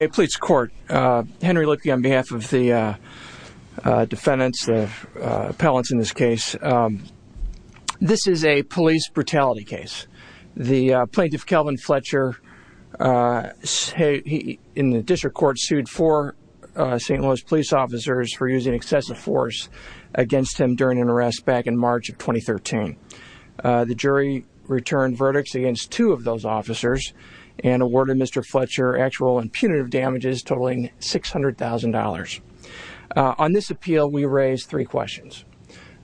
Hey, Police Court. Henry Licke on behalf of the defendants, the appellants in this case. This is a police brutality case. The Plaintiff, Kelvin Fletcher, in the district court sued four St. Louis police officers for using excessive force against him during an arrest back in March of 2013. The jury returned verdicts against two of those officers and awarded Mr. Fletcher actual and punitive damages totaling $600,000. On this appeal, we raise three questions.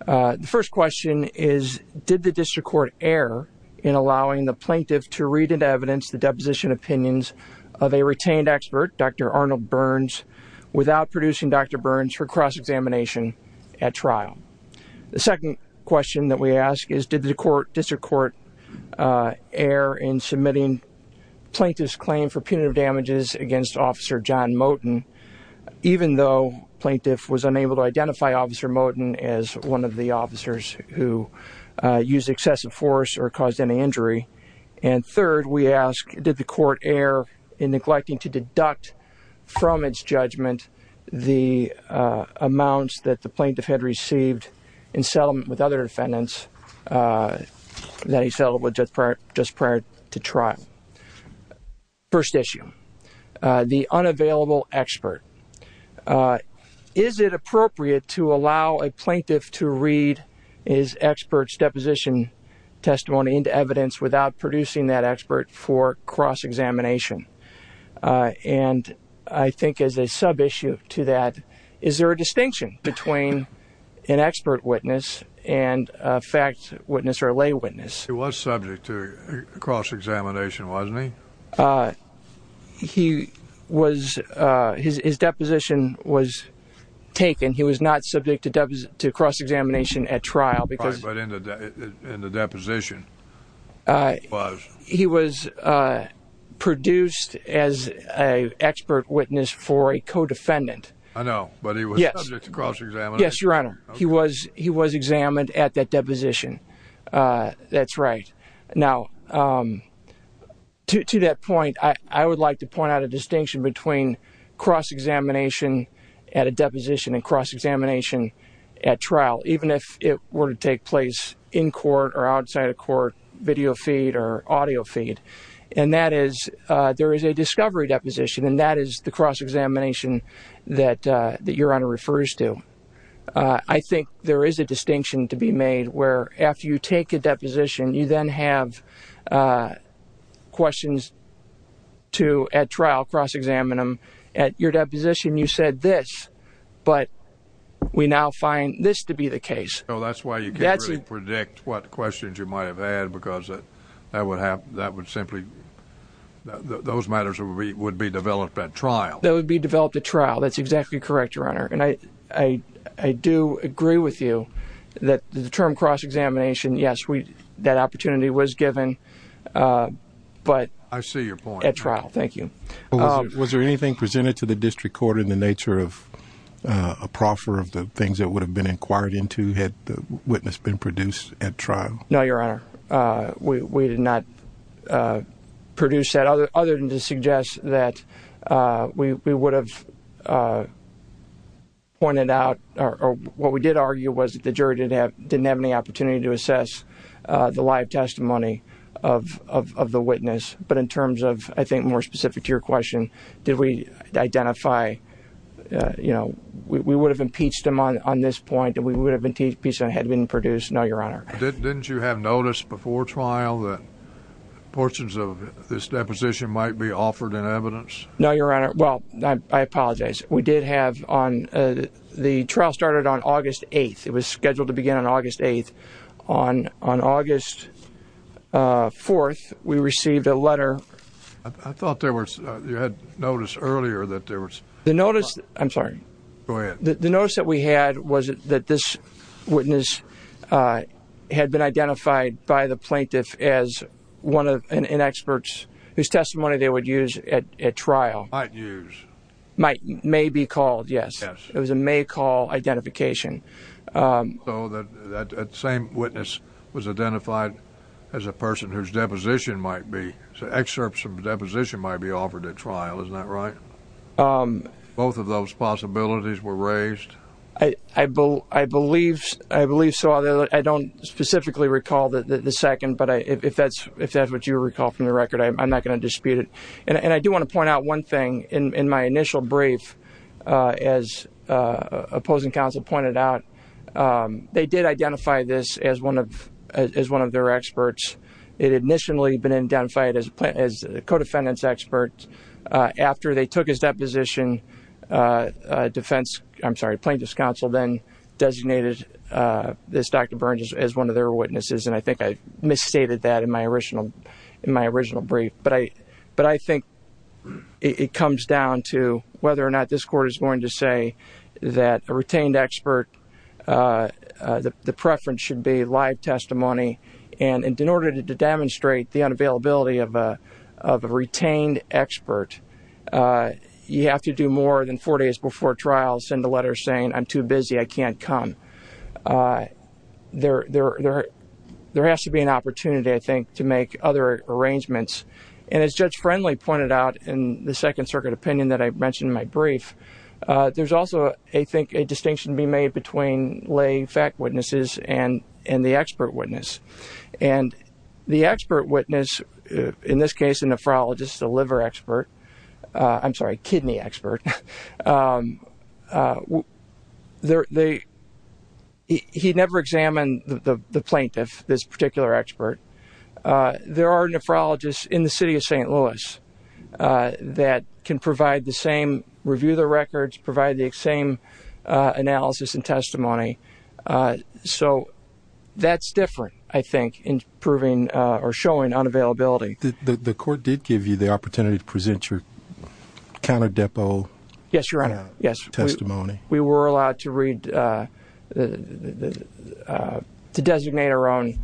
The first question is, did the district court err in allowing the Plaintiff to read into evidence the deposition opinions of a retained expert, Dr. Arnold Burns, without producing Dr. Burns for cross-examination at trial? The second question that we ask is, did the district court err in submitting Plaintiff's claim for punitive damages against Officer John Moten, even though Plaintiff was unable to identify Officer Moten as one of the officers who used excessive force or caused any injury? And third, we ask, did the court err in neglecting to deduct from its judgment the amounts that the Plaintiff had received in settlement with other defendants that he settled with just prior to trial? First issue, the unavailable expert. Is it appropriate to allow a Plaintiff to read his expert's deposition testimony into evidence without producing that expert for cross-examination? And I think as a sub-issue to that, is there a distinction between an expert witness and a fact witness or a lay witness? He was subject to cross-examination, wasn't he? He was, his deposition was taken. He was not subject to cross-examination at trial because But in the deposition, it was. He was produced as an expert witness for a co-defendant. I know, but he was subject to cross-examination. Yes, Your Honor. He was examined at that deposition. That's right. Now, to that point, I would like to point out a distinction between cross-examination at a deposition and cross-examination at trial, even if it were to take place in court or outside of court, video feed or audio feed. And that is, there is a discovery deposition and that is the cross-examination that Your Honor refers to. I think there is a distinction to be made where after you take a deposition, you then have questions to, at trial, cross-examine them. At your deposition, you said this, but we now find this to be the case. So that's why you can't really predict what questions you might have had because that would have, that would simply, those matters would be developed at trial. That would be developed at trial. That's exactly correct, Your Honor. And I do agree with you that the term cross-examination, yes, that opportunity was given, but I see your point. At trial. Thank you. Was there anything presented to the district court in the nature of a proffer of the things that would have been inquired into had the witness been produced at trial? No, Your Honor. We did not produce that other than to suggest that we would have pointed out, or what we did argue was that the jury didn't have any opportunity to assess the live testimony of the witness. But in terms of, I think, more specific to your question, did we identify, you know, we would have impeached him on this point, and we would have impeached him had it been produced. No, Your Honor. Didn't you have notice before trial that portions of this deposition might be offered in evidence? No, Your Honor. Well, I apologize. We did have on, the trial started on August 8th. It was scheduled to begin on August 8th. On August 4th, we received a letter. I thought there was, you had notice earlier that there was. The notice, I'm sorry. Go ahead. The notice that we had was that this witness had been identified by the plaintiff as one of, and experts, whose testimony they would use at trial. Might use. Might, may be called, yes. Yes. It was a may call identification. So that same witness was identified as a person whose deposition might be, excerpts of deposition might be offered at trial. Isn't that right? Both of those possibilities were raised. I believe so. I don't specifically recall the second, but if that's what you recall from the record, I'm not going to dispute it. And I do want to point out one thing in my initial brief, as opposing counsel pointed out, they did identify this as one of, as one of their experts. It had initially been identified as a co-defendant's expert. After they took his deposition, defense, I'm sorry. Plaintiff's counsel then designated this Dr. Burns as one of their witnesses. And I think I misstated that in my original, in my original brief. But I think it comes down to whether or not this court is going to say that a retained expert, the preference should be live testimony. And in order to demonstrate the unavailability of a retained expert, you have to do more than four days before trial, send a letter saying, I'm too busy. I can't come. There, there, there, there has to be an opportunity, I think, to make other arrangements. And as Judge Friendly pointed out in the second circuit opinion that I mentioned in my brief, there's also, I think, a distinction to be made between lay fact witnesses and, and the expert witness. And the expert witness, in this case, a nephrologist, a liver expert, I'm sorry, kidney expert. He never examined the plaintiff, this particular expert. There are nephrologists in the city of St. Louis that can provide the same, review the records, provide the same analysis and testimony. So that's different, I think, in proving or showing unavailability. The court did give you the opportunity to present your counter depo. Yes, Your Honor. Yes. Testimony. We were allowed to read, to designate our own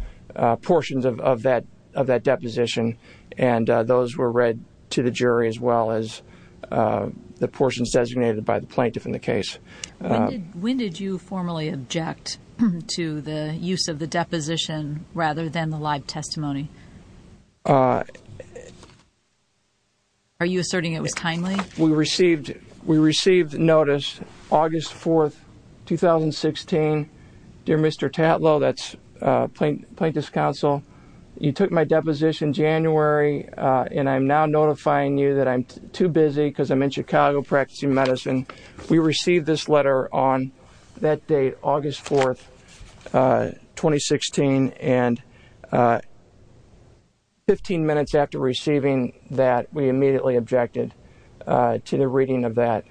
portions of that, of that deposition. And those were read to the jury as well as the portions designated by the plaintiff in the case. When did you formally object to the use of the deposition rather than the live testimony? Are you asserting it was timely? We received, we received notice August 4th, 2016. Dear Mr. Tatlow, that's plaintiff's counsel, you took my deposition January and I'm now notifying you that I'm too busy because I'm in Chicago practicing medicine. We received this letter on that date, August 4th, 2016. And 15 minutes after receiving that, we immediately objected to the reading of that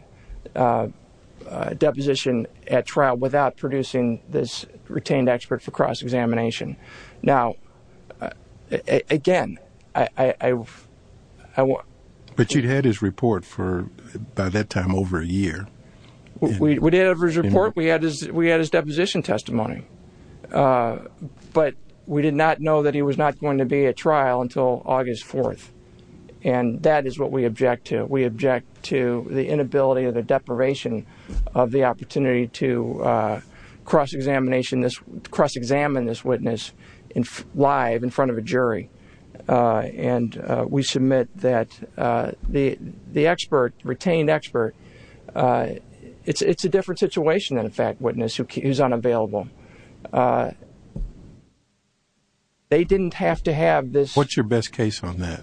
deposition at trial without producing this retained expert for cross-examination. Now, again, I, I, I want. But you'd had his report for, by that time, over a year. We did have his report. We had his, we had his deposition testimony. Uh, but we did not know that he was not going to be at trial until August 4th. And that is what we object to. We object to the inability or the deprivation of the opportunity to, uh, cross-examination this, cross-examine this witness in, live in front of a jury. Uh, and, uh, we submit that, uh, the, the expert, retained expert, uh, it's, it's a different situation than a fact witness who is unavailable. Uh, they didn't have to have this. What's your best case on that?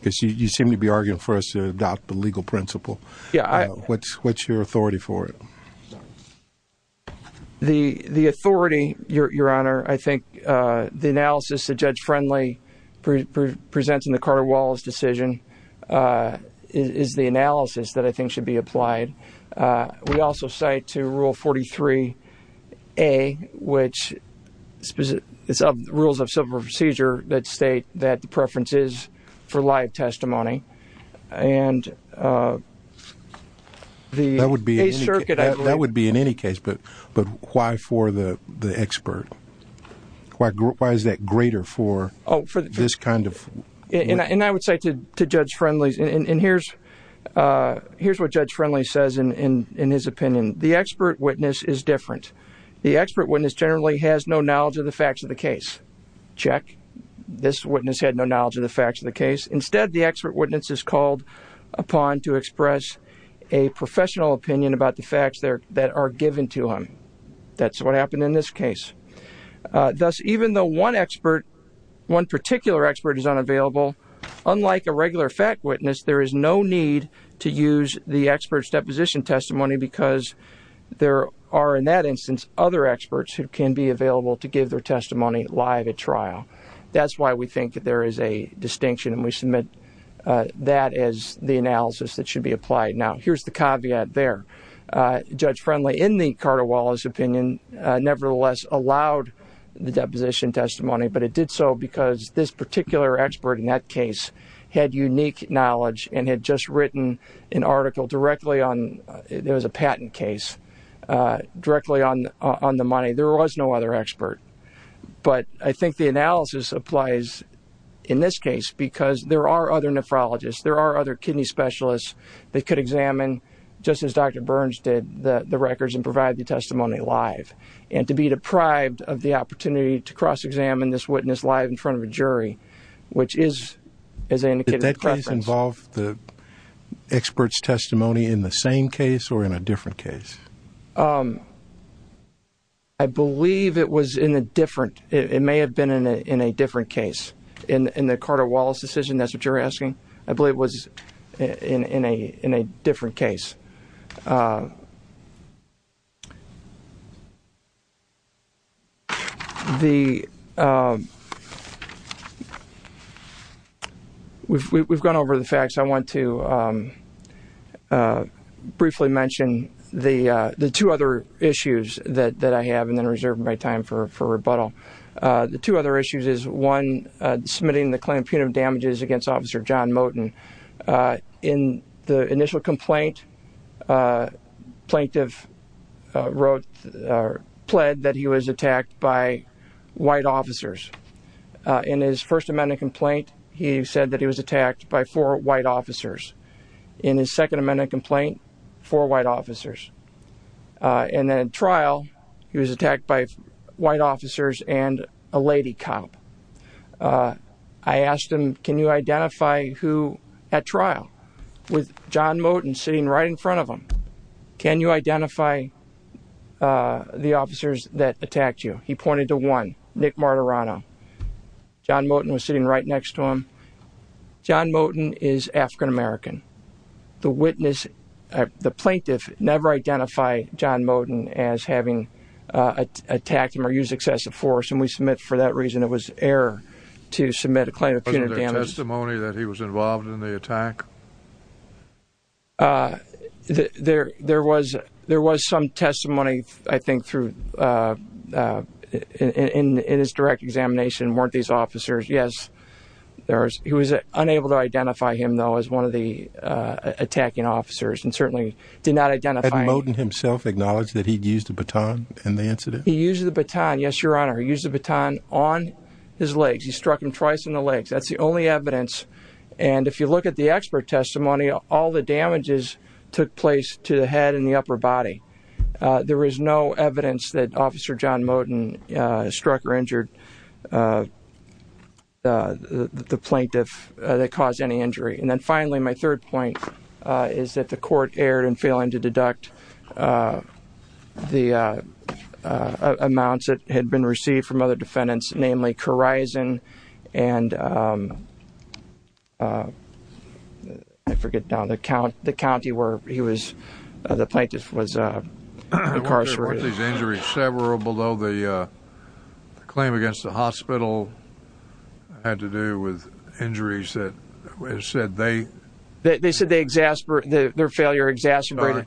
Because you, you seem to be arguing for us to adopt the legal principle. Yeah, I. What's, what's your authority for it? The, the authority, Your Honor, I think, uh, the analysis that Judge Friendly presents in the Carter-Wallace decision, uh, is the analysis that I think should be applied. Uh, we also cite to rule 43A, which specific rules of civil procedure that state that the preference is for live testimony. And, uh, that would be, that would be in any case, but, but why for the, the expert? Why, why is that greater for this kind of, and I would say to, to Judge Friendly's and here's, uh, here's what Judge Friendly says in, in, in his opinion. The expert witness is different. The expert witness generally has no knowledge of the facts of the case. Check. This witness had no knowledge of the facts of the case. Instead, the expert witness is called upon to express a professional opinion about the facts there that are given to him. That's what happened in this case. Thus, even though one expert, one particular expert is unavailable, unlike a regular fact witness, there is no need to use the expert's deposition testimony because there are, in that instance, other experts who can be available to give their testimony live at trial. That's why we think that there is a distinction and we submit, uh, that as the analysis that should be applied. Now, here's the caveat there, uh, Judge Friendly in the Carter-Wallace opinion, uh, nevertheless allowed the deposition testimony, but it did so because this particular expert in that case had unique knowledge and had just written an article directly on, uh, there was a patent case, uh, directly on, uh, on the money. There was no other expert, but I think the analysis applies in this case because there are other nephrologists, there are other kidney specialists that could examine just as Dr. Burns did the records and provide the testimony live. And to be deprived of the opportunity to cross-examine this witness live in front of a jury, which is, as I indicated... Did that case involve the expert's testimony in the same case or in a different case? Um, I believe it was in a different, it may have been in a, in a different case. In, in the Carter-Wallace decision, that's what you're asking. I believe it was in, in a, in a different case. Uh, the, um, we've, we've gone over the facts. I want to, um, uh, briefly mention the, uh, the two other issues that, that I have and then reserve my time for, for rebuttal. Uh, the two other issues is one, uh, submitting the claim of punitive damages against Officer John Moten. Uh, in the initial complaint, uh, plaintiff, uh, wrote, uh, pled that he was attacked by white officers. Uh, in his First Amendment complaint, he said that he was attacked by four white officers. In his Second Amendment complaint, four white officers. Uh, and then in trial, he was attacked by white officers and a lady cop. Uh, I asked him, can you identify who at trial with John Moten sitting right in front of him? Can you identify, uh, the officers that attacked you? He pointed to one, Nick Martirano. John Moten was sitting right next to him. John Moten is African-American. The witness, uh, the plaintiff never identified John Moten as having, uh, attacked him or used excessive force. And we submit for that reason, it was error to submit a claim of punitive damages. Wasn't there testimony that he was involved in the attack? Uh, there, there was, there was some testimony, I think, through, uh, uh, in, in, in his direct examination. Weren't these officers? Yes, there was. He was unable to identify him though, as one of the, uh, attacking officers and certainly did not identify him. Had Moten himself acknowledged that he'd used a baton in the incident? He used the baton. Yes, Your Honor. He used the baton on his legs. He struck him twice in the legs. That's the only evidence. And if you look at the expert testimony, all the damages took place to the head and the upper body. Uh, there was no evidence that officer John Moten, uh, struck or injured, uh, uh, the plaintiff, uh, that caused any injury. And then finally, my third point, uh, is that the court erred in failing to deduct, uh, the, uh, uh, amounts that had been received from other defendants, namely Corizon and, um, uh, I forget now, the count, the county where he was, uh, the plaintiff was, uh, incarcerated. Weren't these injuries several below the, uh, claim against the hospital had to do with injuries that said they... They said they exasperated, their failure exacerbated... Sorry.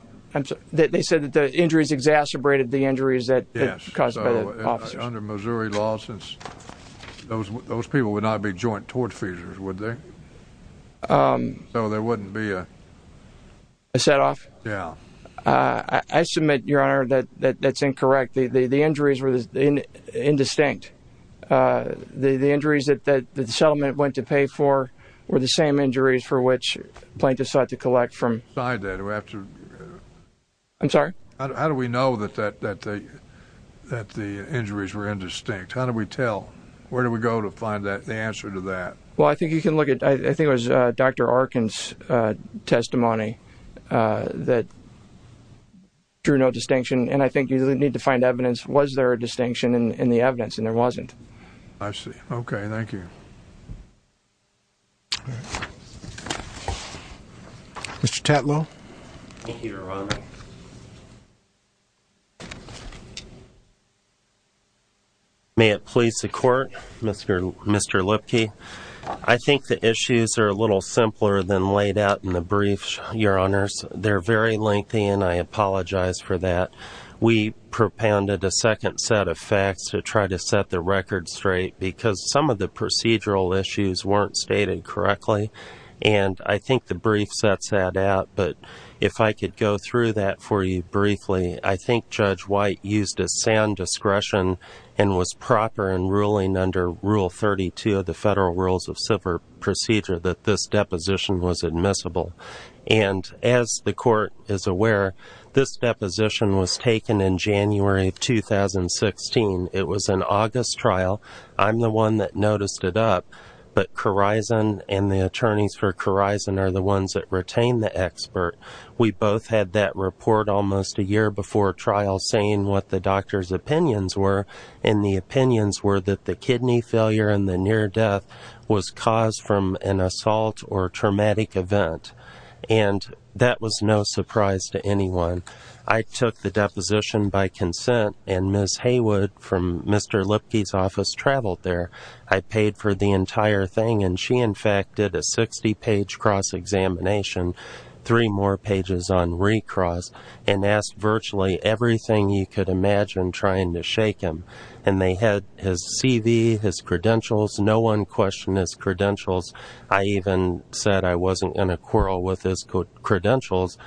They said that the injuries exacerbated the injuries that caused by the officers. Under Missouri law, since those, those people would not be joint tortfeasors, would they? Um... So there wouldn't be a... A set off? Yeah. Uh, I, I submit, Your Honor, that, that, that's incorrect. The, the, the injuries were indistinct. Uh, the, the injuries that, that the settlement went to pay for were the same injuries for which plaintiff sought to collect from... I'm sorry? How do we know that, that, that the, that the injuries were indistinct? How do we tell? Where do we go to find that, the answer to that? Well, I think you can look at, I, I think it was, uh, Dr. Arkin's, uh, testimony, uh, that drew no distinction. And I think you need to find evidence. Was there a distinction in, in the evidence? And there wasn't. I see. Okay, thank you. All right. Mr. Tatlow? Thank you, Your Honor. May it please the Court? Mr., Mr. Lipke, I think the issues are a little simpler than laid out in the briefs, Your Honors. They're very lengthy and I apologize for that. We propounded a second set of facts to try to set the record straight because some of the procedural issues weren't stated correctly. And I think the brief sets that out. But if I could go through that for you briefly, I think Judge White used a sound discretion and was proper in ruling under Rule 32 of the Federal Rules of Civil Procedure that this deposition was admissible. And as the Court is aware, this deposition was taken in January of 2016. It was an August trial. I'm the one that noticed it up. But Corizon and the attorneys for Corizon are the ones that retain the expert. We both had that report almost a year before trial saying what the doctor's opinions were. And the opinions were that the kidney failure and the near death was caused from an assault or traumatic event. And that was no surprise to anyone. I took the deposition by consent. And Ms. Haywood from Mr. Lipke's office traveled there. I paid for the entire thing. And she, in fact, did a 60-page cross-examination, three more pages on recross, and asked virtually everything you could imagine trying to shake him. And they had his CV, his credentials. No one questioned his credentials. I even said I wasn't going to quarrel with his credentials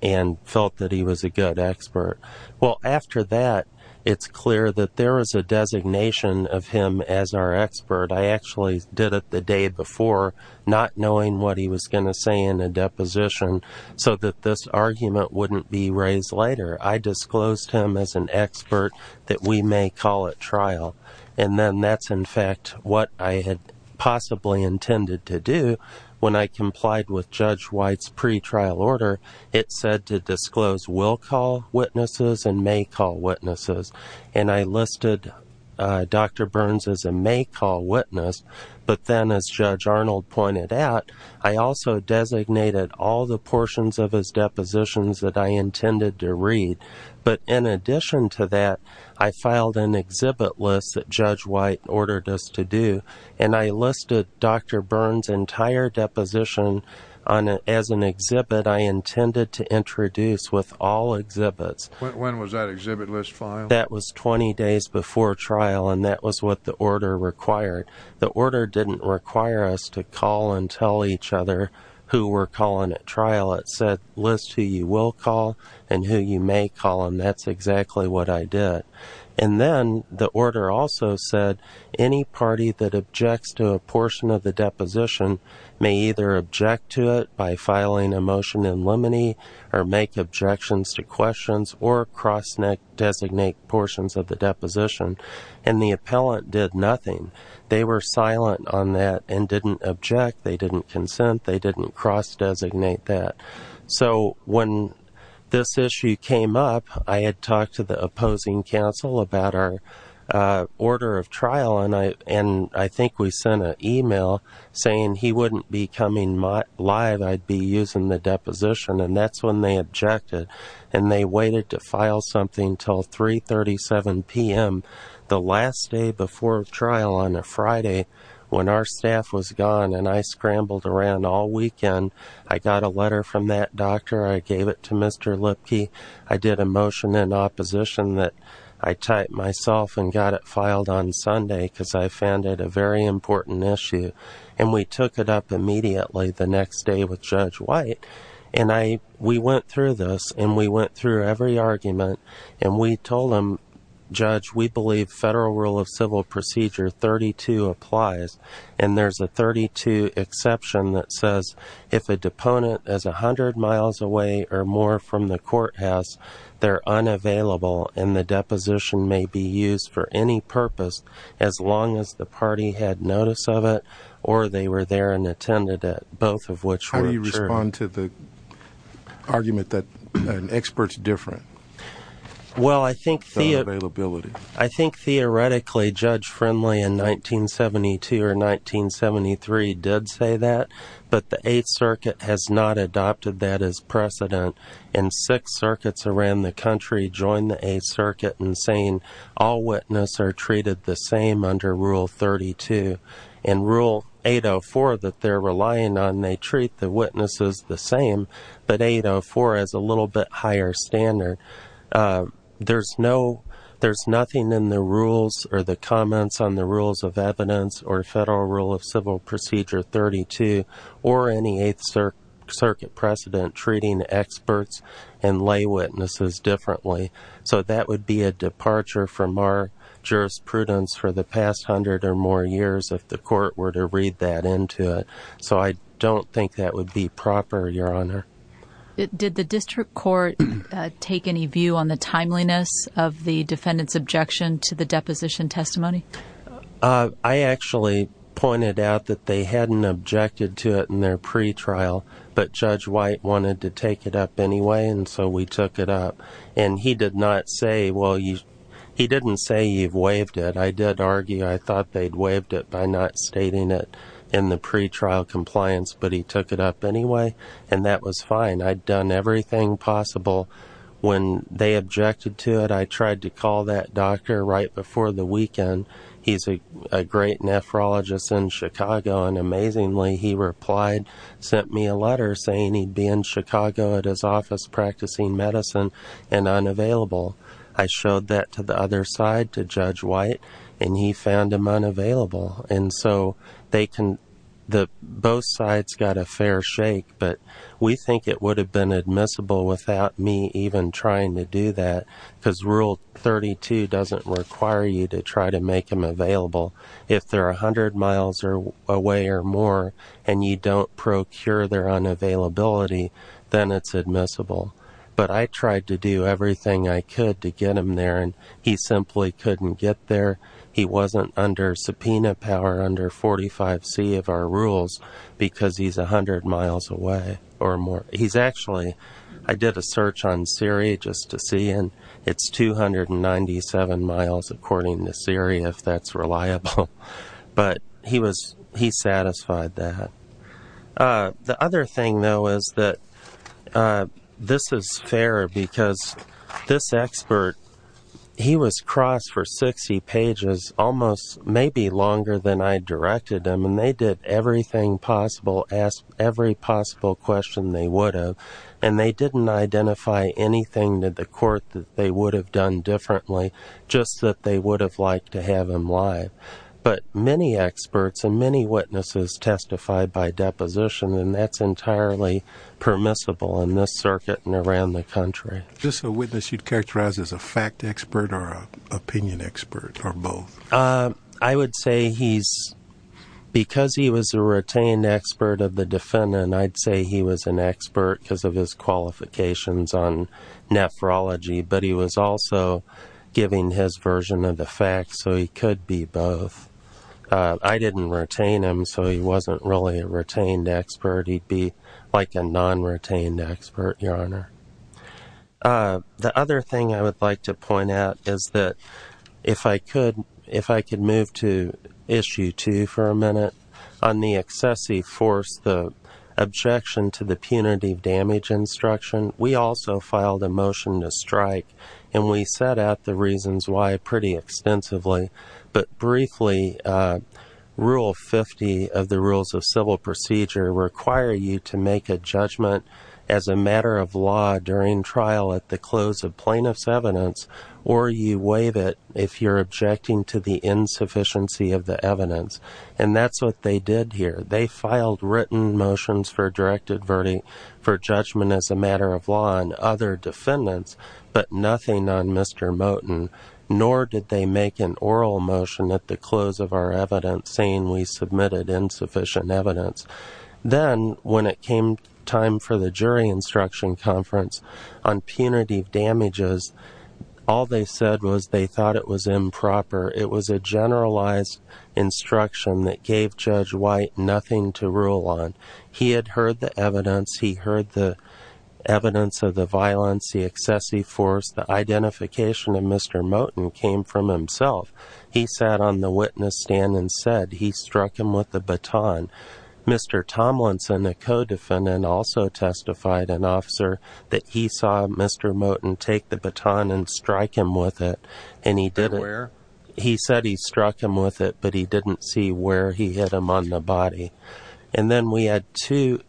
and felt that he was a good expert. Well, after that, it's clear that there is a designation of him as our expert. I actually did it the day before, not knowing what he was going to say in the deposition so that this argument wouldn't be raised later. I disclosed him as an expert that we may call at trial. And then that's, in fact, what I had possibly intended to do when I complied with Judge White's pretrial order. It said to disclose will call witnesses and may call witnesses. And I listed Dr. Burns as a may call witness. But then, as Judge Arnold pointed out, I also designated all the portions of his depositions that I intended to read. But in addition to that, I filed an exhibit list that Judge White ordered us to do. And I listed Dr. Burns' entire deposition as an exhibit I intended to introduce with all exhibits. When was that exhibit list filed? That was 20 days before trial. And that was what the order required. The order didn't require us to call and tell each other who we're calling at trial. It said list who you will call and who you may call. And that's exactly what I did. And then the order also said any party that objects to a portion of the deposition may either object to it by filing a motion in limine or make objections to questions or cross-designate portions of the deposition. And the appellant did nothing. They were silent on that and didn't object. They didn't consent. They didn't cross-designate that. So when this issue came up, I had talked to the opposing counsel about our order of trial. And I think we sent an email saying he wouldn't be coming live. I'd be using the deposition. And that's when they objected. And they waited to file something until 3.37 p.m., the last day before trial on a Friday when our staff was gone. And I scrambled around all weekend. I got a letter from that doctor. I gave it to Mr. Lipke. I did a motion in opposition that I typed myself and got it filed on Sunday because I found it a very important issue. And we took it up immediately the next day with Judge White. And we went through this. And we went through every argument. And we told him, Judge, we believe Federal Rule of Civil Procedure 32 applies. And there's a 32 exception that says if a deponent is 100 miles away or more from the courthouse, they're unavailable. And the deposition may be used for any purpose as long as the party had notice of it or they were there and attended it, both of which were true. On to the argument that an expert's different. Well, I think theoretically, Judge Friendly in 1972 or 1973 did say that. But the Eighth Circuit has not adopted that as precedent. And six circuits around the country joined the Eighth Circuit in saying all witnesses are treated the same under Rule 32. In Rule 804 that they're relying on, they treat the witnesses the same. But 804 has a little bit higher standard. There's nothing in the rules or the comments on the Rules of Evidence or Federal Rule of Civil Procedure 32 or any Eighth Circuit precedent treating experts and lay witnesses differently. So that would be a departure from our jurisprudence for the past hundred or more years if the court were to read that into it. So I don't think that would be proper, Your Honor. Did the district court take any view on the timeliness of the defendant's objection to the deposition testimony? I actually pointed out that they hadn't objected to it in their pre-trial, but Judge White wanted to take it up anyway. And so we took it up. And he did not say, well, he didn't say you've waived it. I did argue I thought they'd waived it by not stating it in the pre-trial compliance, but he took it up anyway. And that was fine. I'd done everything possible. When they objected to it, I tried to call that doctor right before the weekend. He's a great nephrologist in Chicago. And amazingly, he replied, sent me a letter saying he'd be in Chicago at his office practicing medicine and unavailable. I showed that to the other side, to Judge White, and he found him unavailable. And so both sides got a fair shake. But we think it would have been admissible without me even trying to do that, because Rule 32 doesn't require you to try to make them available. If they're 100 miles away or more and you don't procure their unavailability, then it's admissible. But I tried to do everything I could to get him there, and he simply couldn't get there. He wasn't under subpoena power, under 45C of our rules, because he's 100 miles away or more. He's actually, I did a search on Siri just to see, and it's 297 miles, according to Siri, if that's reliable. But he was, he satisfied that. The other thing, though, is that this is fair, because this expert, he was crossed for 60 pages, almost maybe longer than I directed him. And they did everything possible, asked every possible question they would have, and they didn't identify anything to the court that they would have done differently, just that they would have liked to have him live. But many experts and many witnesses testify by deposition, and that's entirely permissible in this circuit and around the country. Is this a witness you'd characterize as a fact expert or an opinion expert, or both? I would say he's, because he was a retained expert of the defendant, I'd say he was an expert because of his qualifications on nephrology, but he was also giving his version of the oath. I didn't retain him, so he wasn't really a retained expert. He'd be like a non-retained expert, Your Honor. The other thing I would like to point out is that if I could, if I could move to issue two for a minute, on the excessive force, the objection to the punitive damage instruction, we also filed a motion to strike, and we set out the reasons why pretty extensively. But briefly, Rule 50 of the Rules of Civil Procedure require you to make a judgment as a matter of law during trial at the close of plaintiff's evidence, or you waive it if you're objecting to the insufficiency of the evidence. And that's what they did here. They filed written motions for a directed verdict for judgment as a matter of law on defendants, but nothing on Mr. Moten, nor did they make an oral motion at the close of our evidence saying we submitted insufficient evidence. Then when it came time for the jury instruction conference on punitive damages, all they said was they thought it was improper. It was a generalized instruction that gave Judge White nothing to rule on. He had heard the evidence. He heard the evidence of the violence, the excessive force. The identification of Mr. Moten came from himself. He sat on the witness stand and said he struck him with the baton. Mr. Tomlinson, a co-defendant, also testified, an officer, that he saw Mr. Moten take the baton and strike him with it, and he did it. He said he struck him with it, but he didn't see where he hit him on the body. And then we had two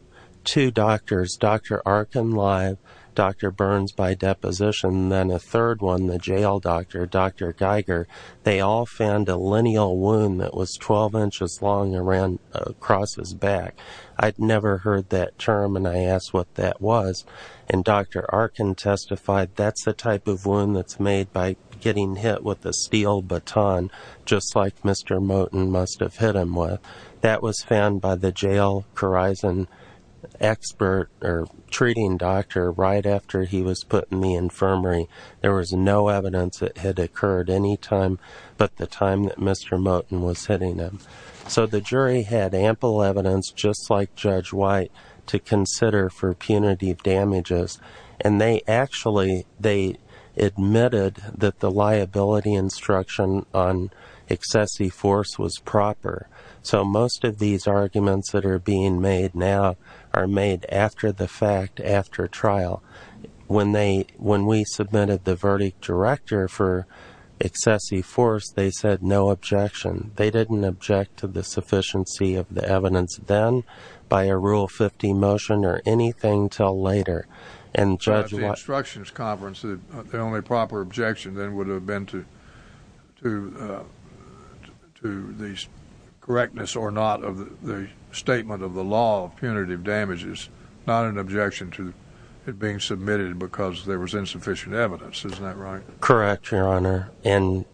doctors, Dr. Arkin live, Dr. Burns by deposition, and then a third one, the jail doctor, Dr. Geiger. They all found a lineal wound that was 12 inches long across his back. I'd never heard that term, and I asked what that was, and Dr. Arkin testified that's the type of wound that's made by getting hit with a steel baton, just like Mr. Moten must have hit him with. That was found by the jail Corizon expert, or treating doctor, right after he was put in the infirmary. There was no evidence it had occurred any time but the time that Mr. Moten was hitting him. So the jury had ample evidence, just like Judge White, to consider for punitive damages, and they actually, they admitted that the liability instruction on excessive force was proper. So most of these arguments that are being made now are made after the fact, after trial. When we submitted the verdict director for excessive force, they said no objection. They didn't object to the sufficiency of the evidence then, by a Rule 50 motion, or anything until later. And Judge White... Correctness or not of the statement of the law of punitive damages, not an objection to it being submitted because there was insufficient evidence. Isn't that right? Correct, Your Honor. And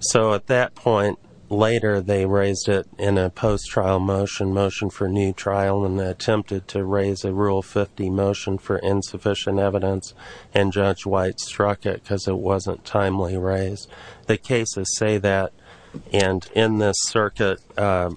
so at that point, later they raised it in a post-trial motion, motion for new trial, and they attempted to raise a Rule 50 motion for insufficient evidence, and Judge White struck it because it wasn't timely raised. The cases say that. And in this circuit, the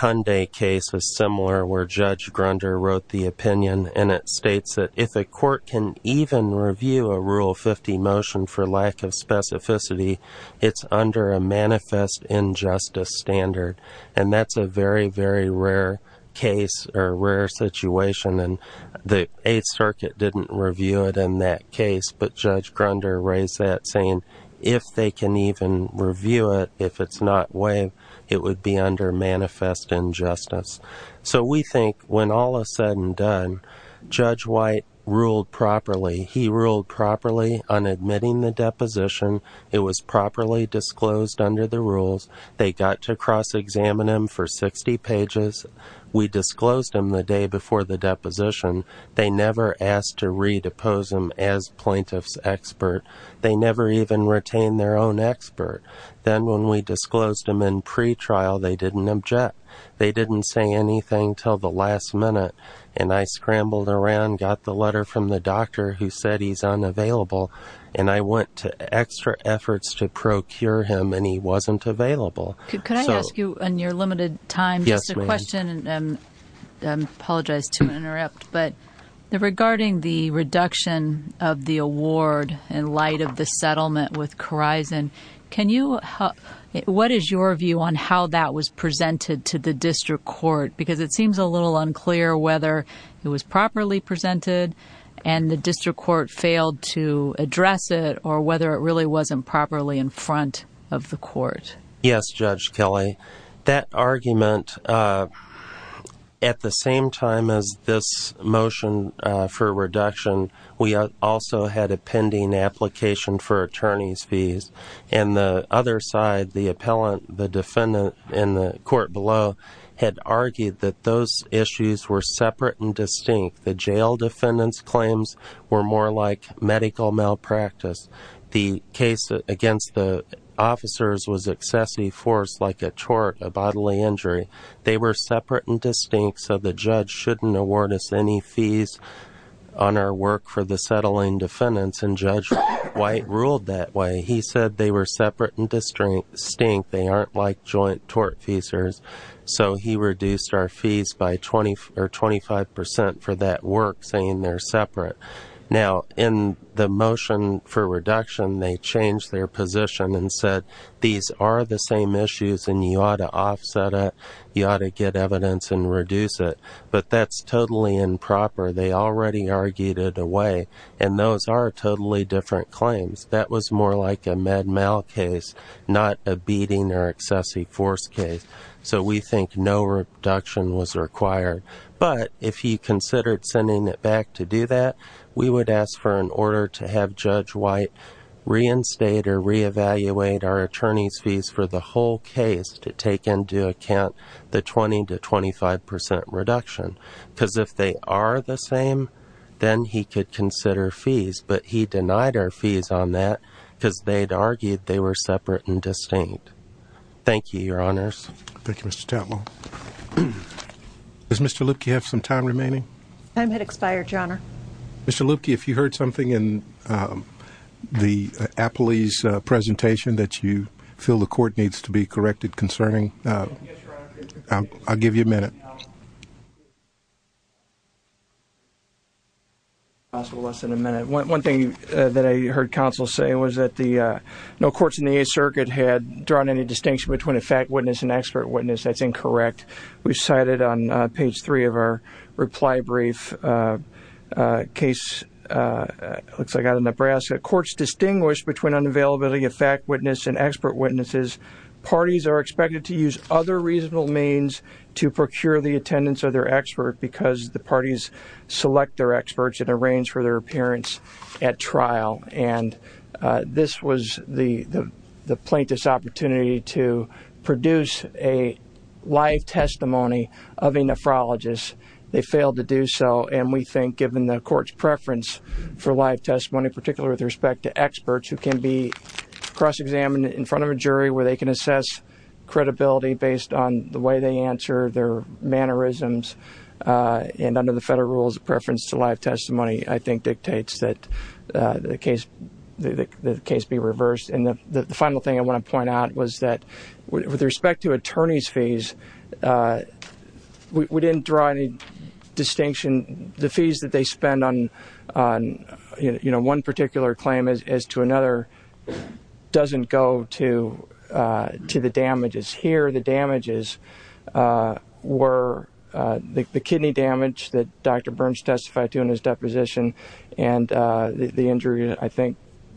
Hyundai case was similar, where Judge Grunder wrote the opinion, and it states that if a court can even review a Rule 50 motion for lack of specificity, it's under a manifest injustice standard. And that's a very, very rare case, or rare situation. And the Eighth Circuit didn't review it in that case, but Judge Grunder raised that, saying if they can even review it, if it's not waived, it would be under manifest injustice. So we think, when all is said and done, Judge White ruled properly. He ruled properly on admitting the deposition. It was properly disclosed under the rules. They got to cross-examine him for 60 pages. We disclosed him the day before the deposition. They never asked to redepose him as plaintiff's expert. They never even retained their own expert. Then when we disclosed him in pretrial, they didn't object. They didn't say anything till the last minute. And I scrambled around, got the letter from the doctor who said he's unavailable, and I went to extra efforts to procure him, and he wasn't available. Could I ask you, in your limited time, just a question, and I apologize to interrupt, but regarding the reduction of the award in light of the settlement with Corizon, what is your view on how that was presented to the district court? Because it seems a little unclear whether it was properly presented and the district court failed to address it, or whether it really wasn't properly in front of the court. Yes, Judge Kelly. That argument, at the same time as this motion for reduction, we also had a pending application for attorney's fees. And the other side, the appellant, the defendant in the court below, had argued that those issues were separate and distinct. The jail defendant's claims were more like medical malpractice. The case against the officers was excessively forced like a tort, a bodily injury. They were separate and distinct, so the judge shouldn't award us any fees on our work for the settling defendants. And Judge White ruled that way. He said they were separate and distinct. They aren't like joint tort feasors. So he reduced our fees by 25% for that work, saying they're separate. Now, in the motion for reduction, they changed their position and said, these are the same issues and you ought to offset it. You ought to get evidence and reduce it. But that's totally improper. They already argued it away. And those are totally different claims. That was more like a med mal case, not a beating or excessive force case. So we think no reduction was required. But if he considered sending it back to do that, we would ask for an order to have Judge White reinstate or reevaluate our attorney's fees for the whole case to take into account the 20 to 25% reduction. Because if they are the same, then he could consider fees. But he denied our fees on that because they'd argued they were separate and distinct. Thank you, Your Honors. Thank you, Mr. Tatlow. Does Mr. Luebke have some time remaining? Time had expired, Your Honor. Mr. Luebke, if you heard something in the appellee's presentation that you feel the court needs to be corrected concerning, I'll give you a minute. One thing that I heard counsel say was that no courts in the Eighth Circuit had drawn any distinction between a fact witness and expert witness. That's incorrect. We've cited on page three of our reply brief a case, looks like out of Nebraska. Courts distinguish between unavailability of fact witness and expert witnesses. Parties are expected to use other reasonable means to procure the attendance of their expert because the parties select their experts and arrange for their appearance at trial. And this was the plaintiff's opportunity to produce a live testimony of a nephrologist. They failed to do so, and we think given the court's preference for live testimony, particularly with respect to experts who can be cross-examined in front of a jury where they can assess credibility based on the way they answer, their mannerisms, and under the case be reversed. And the final thing I want to point out was that with respect to attorney's fees, we didn't draw any distinction. The fees that they spend on one particular claim as to another doesn't go to the damages. Here the damages were the kidney damage that Dr. Burns testified to in his deposition, and the injury, I think,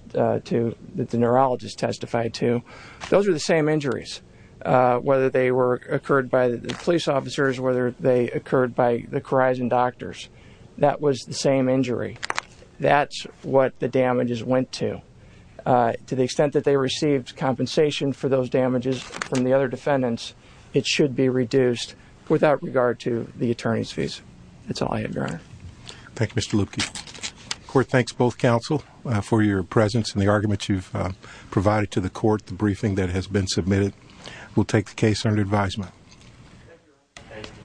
that the neurologist testified to. Those are the same injuries, whether they occurred by the police officers, whether they occurred by the Corizon doctors. That was the same injury. That's what the damages went to. To the extent that they received compensation for those damages from the other defendants, it should be reduced without regard to the attorney's fees. That's all I have, Your Honor. Thank you, Mr. Lupke. The court thanks both counsel for your presence and the argument you've provided to the court. The briefing that has been submitted will take the case under advisement.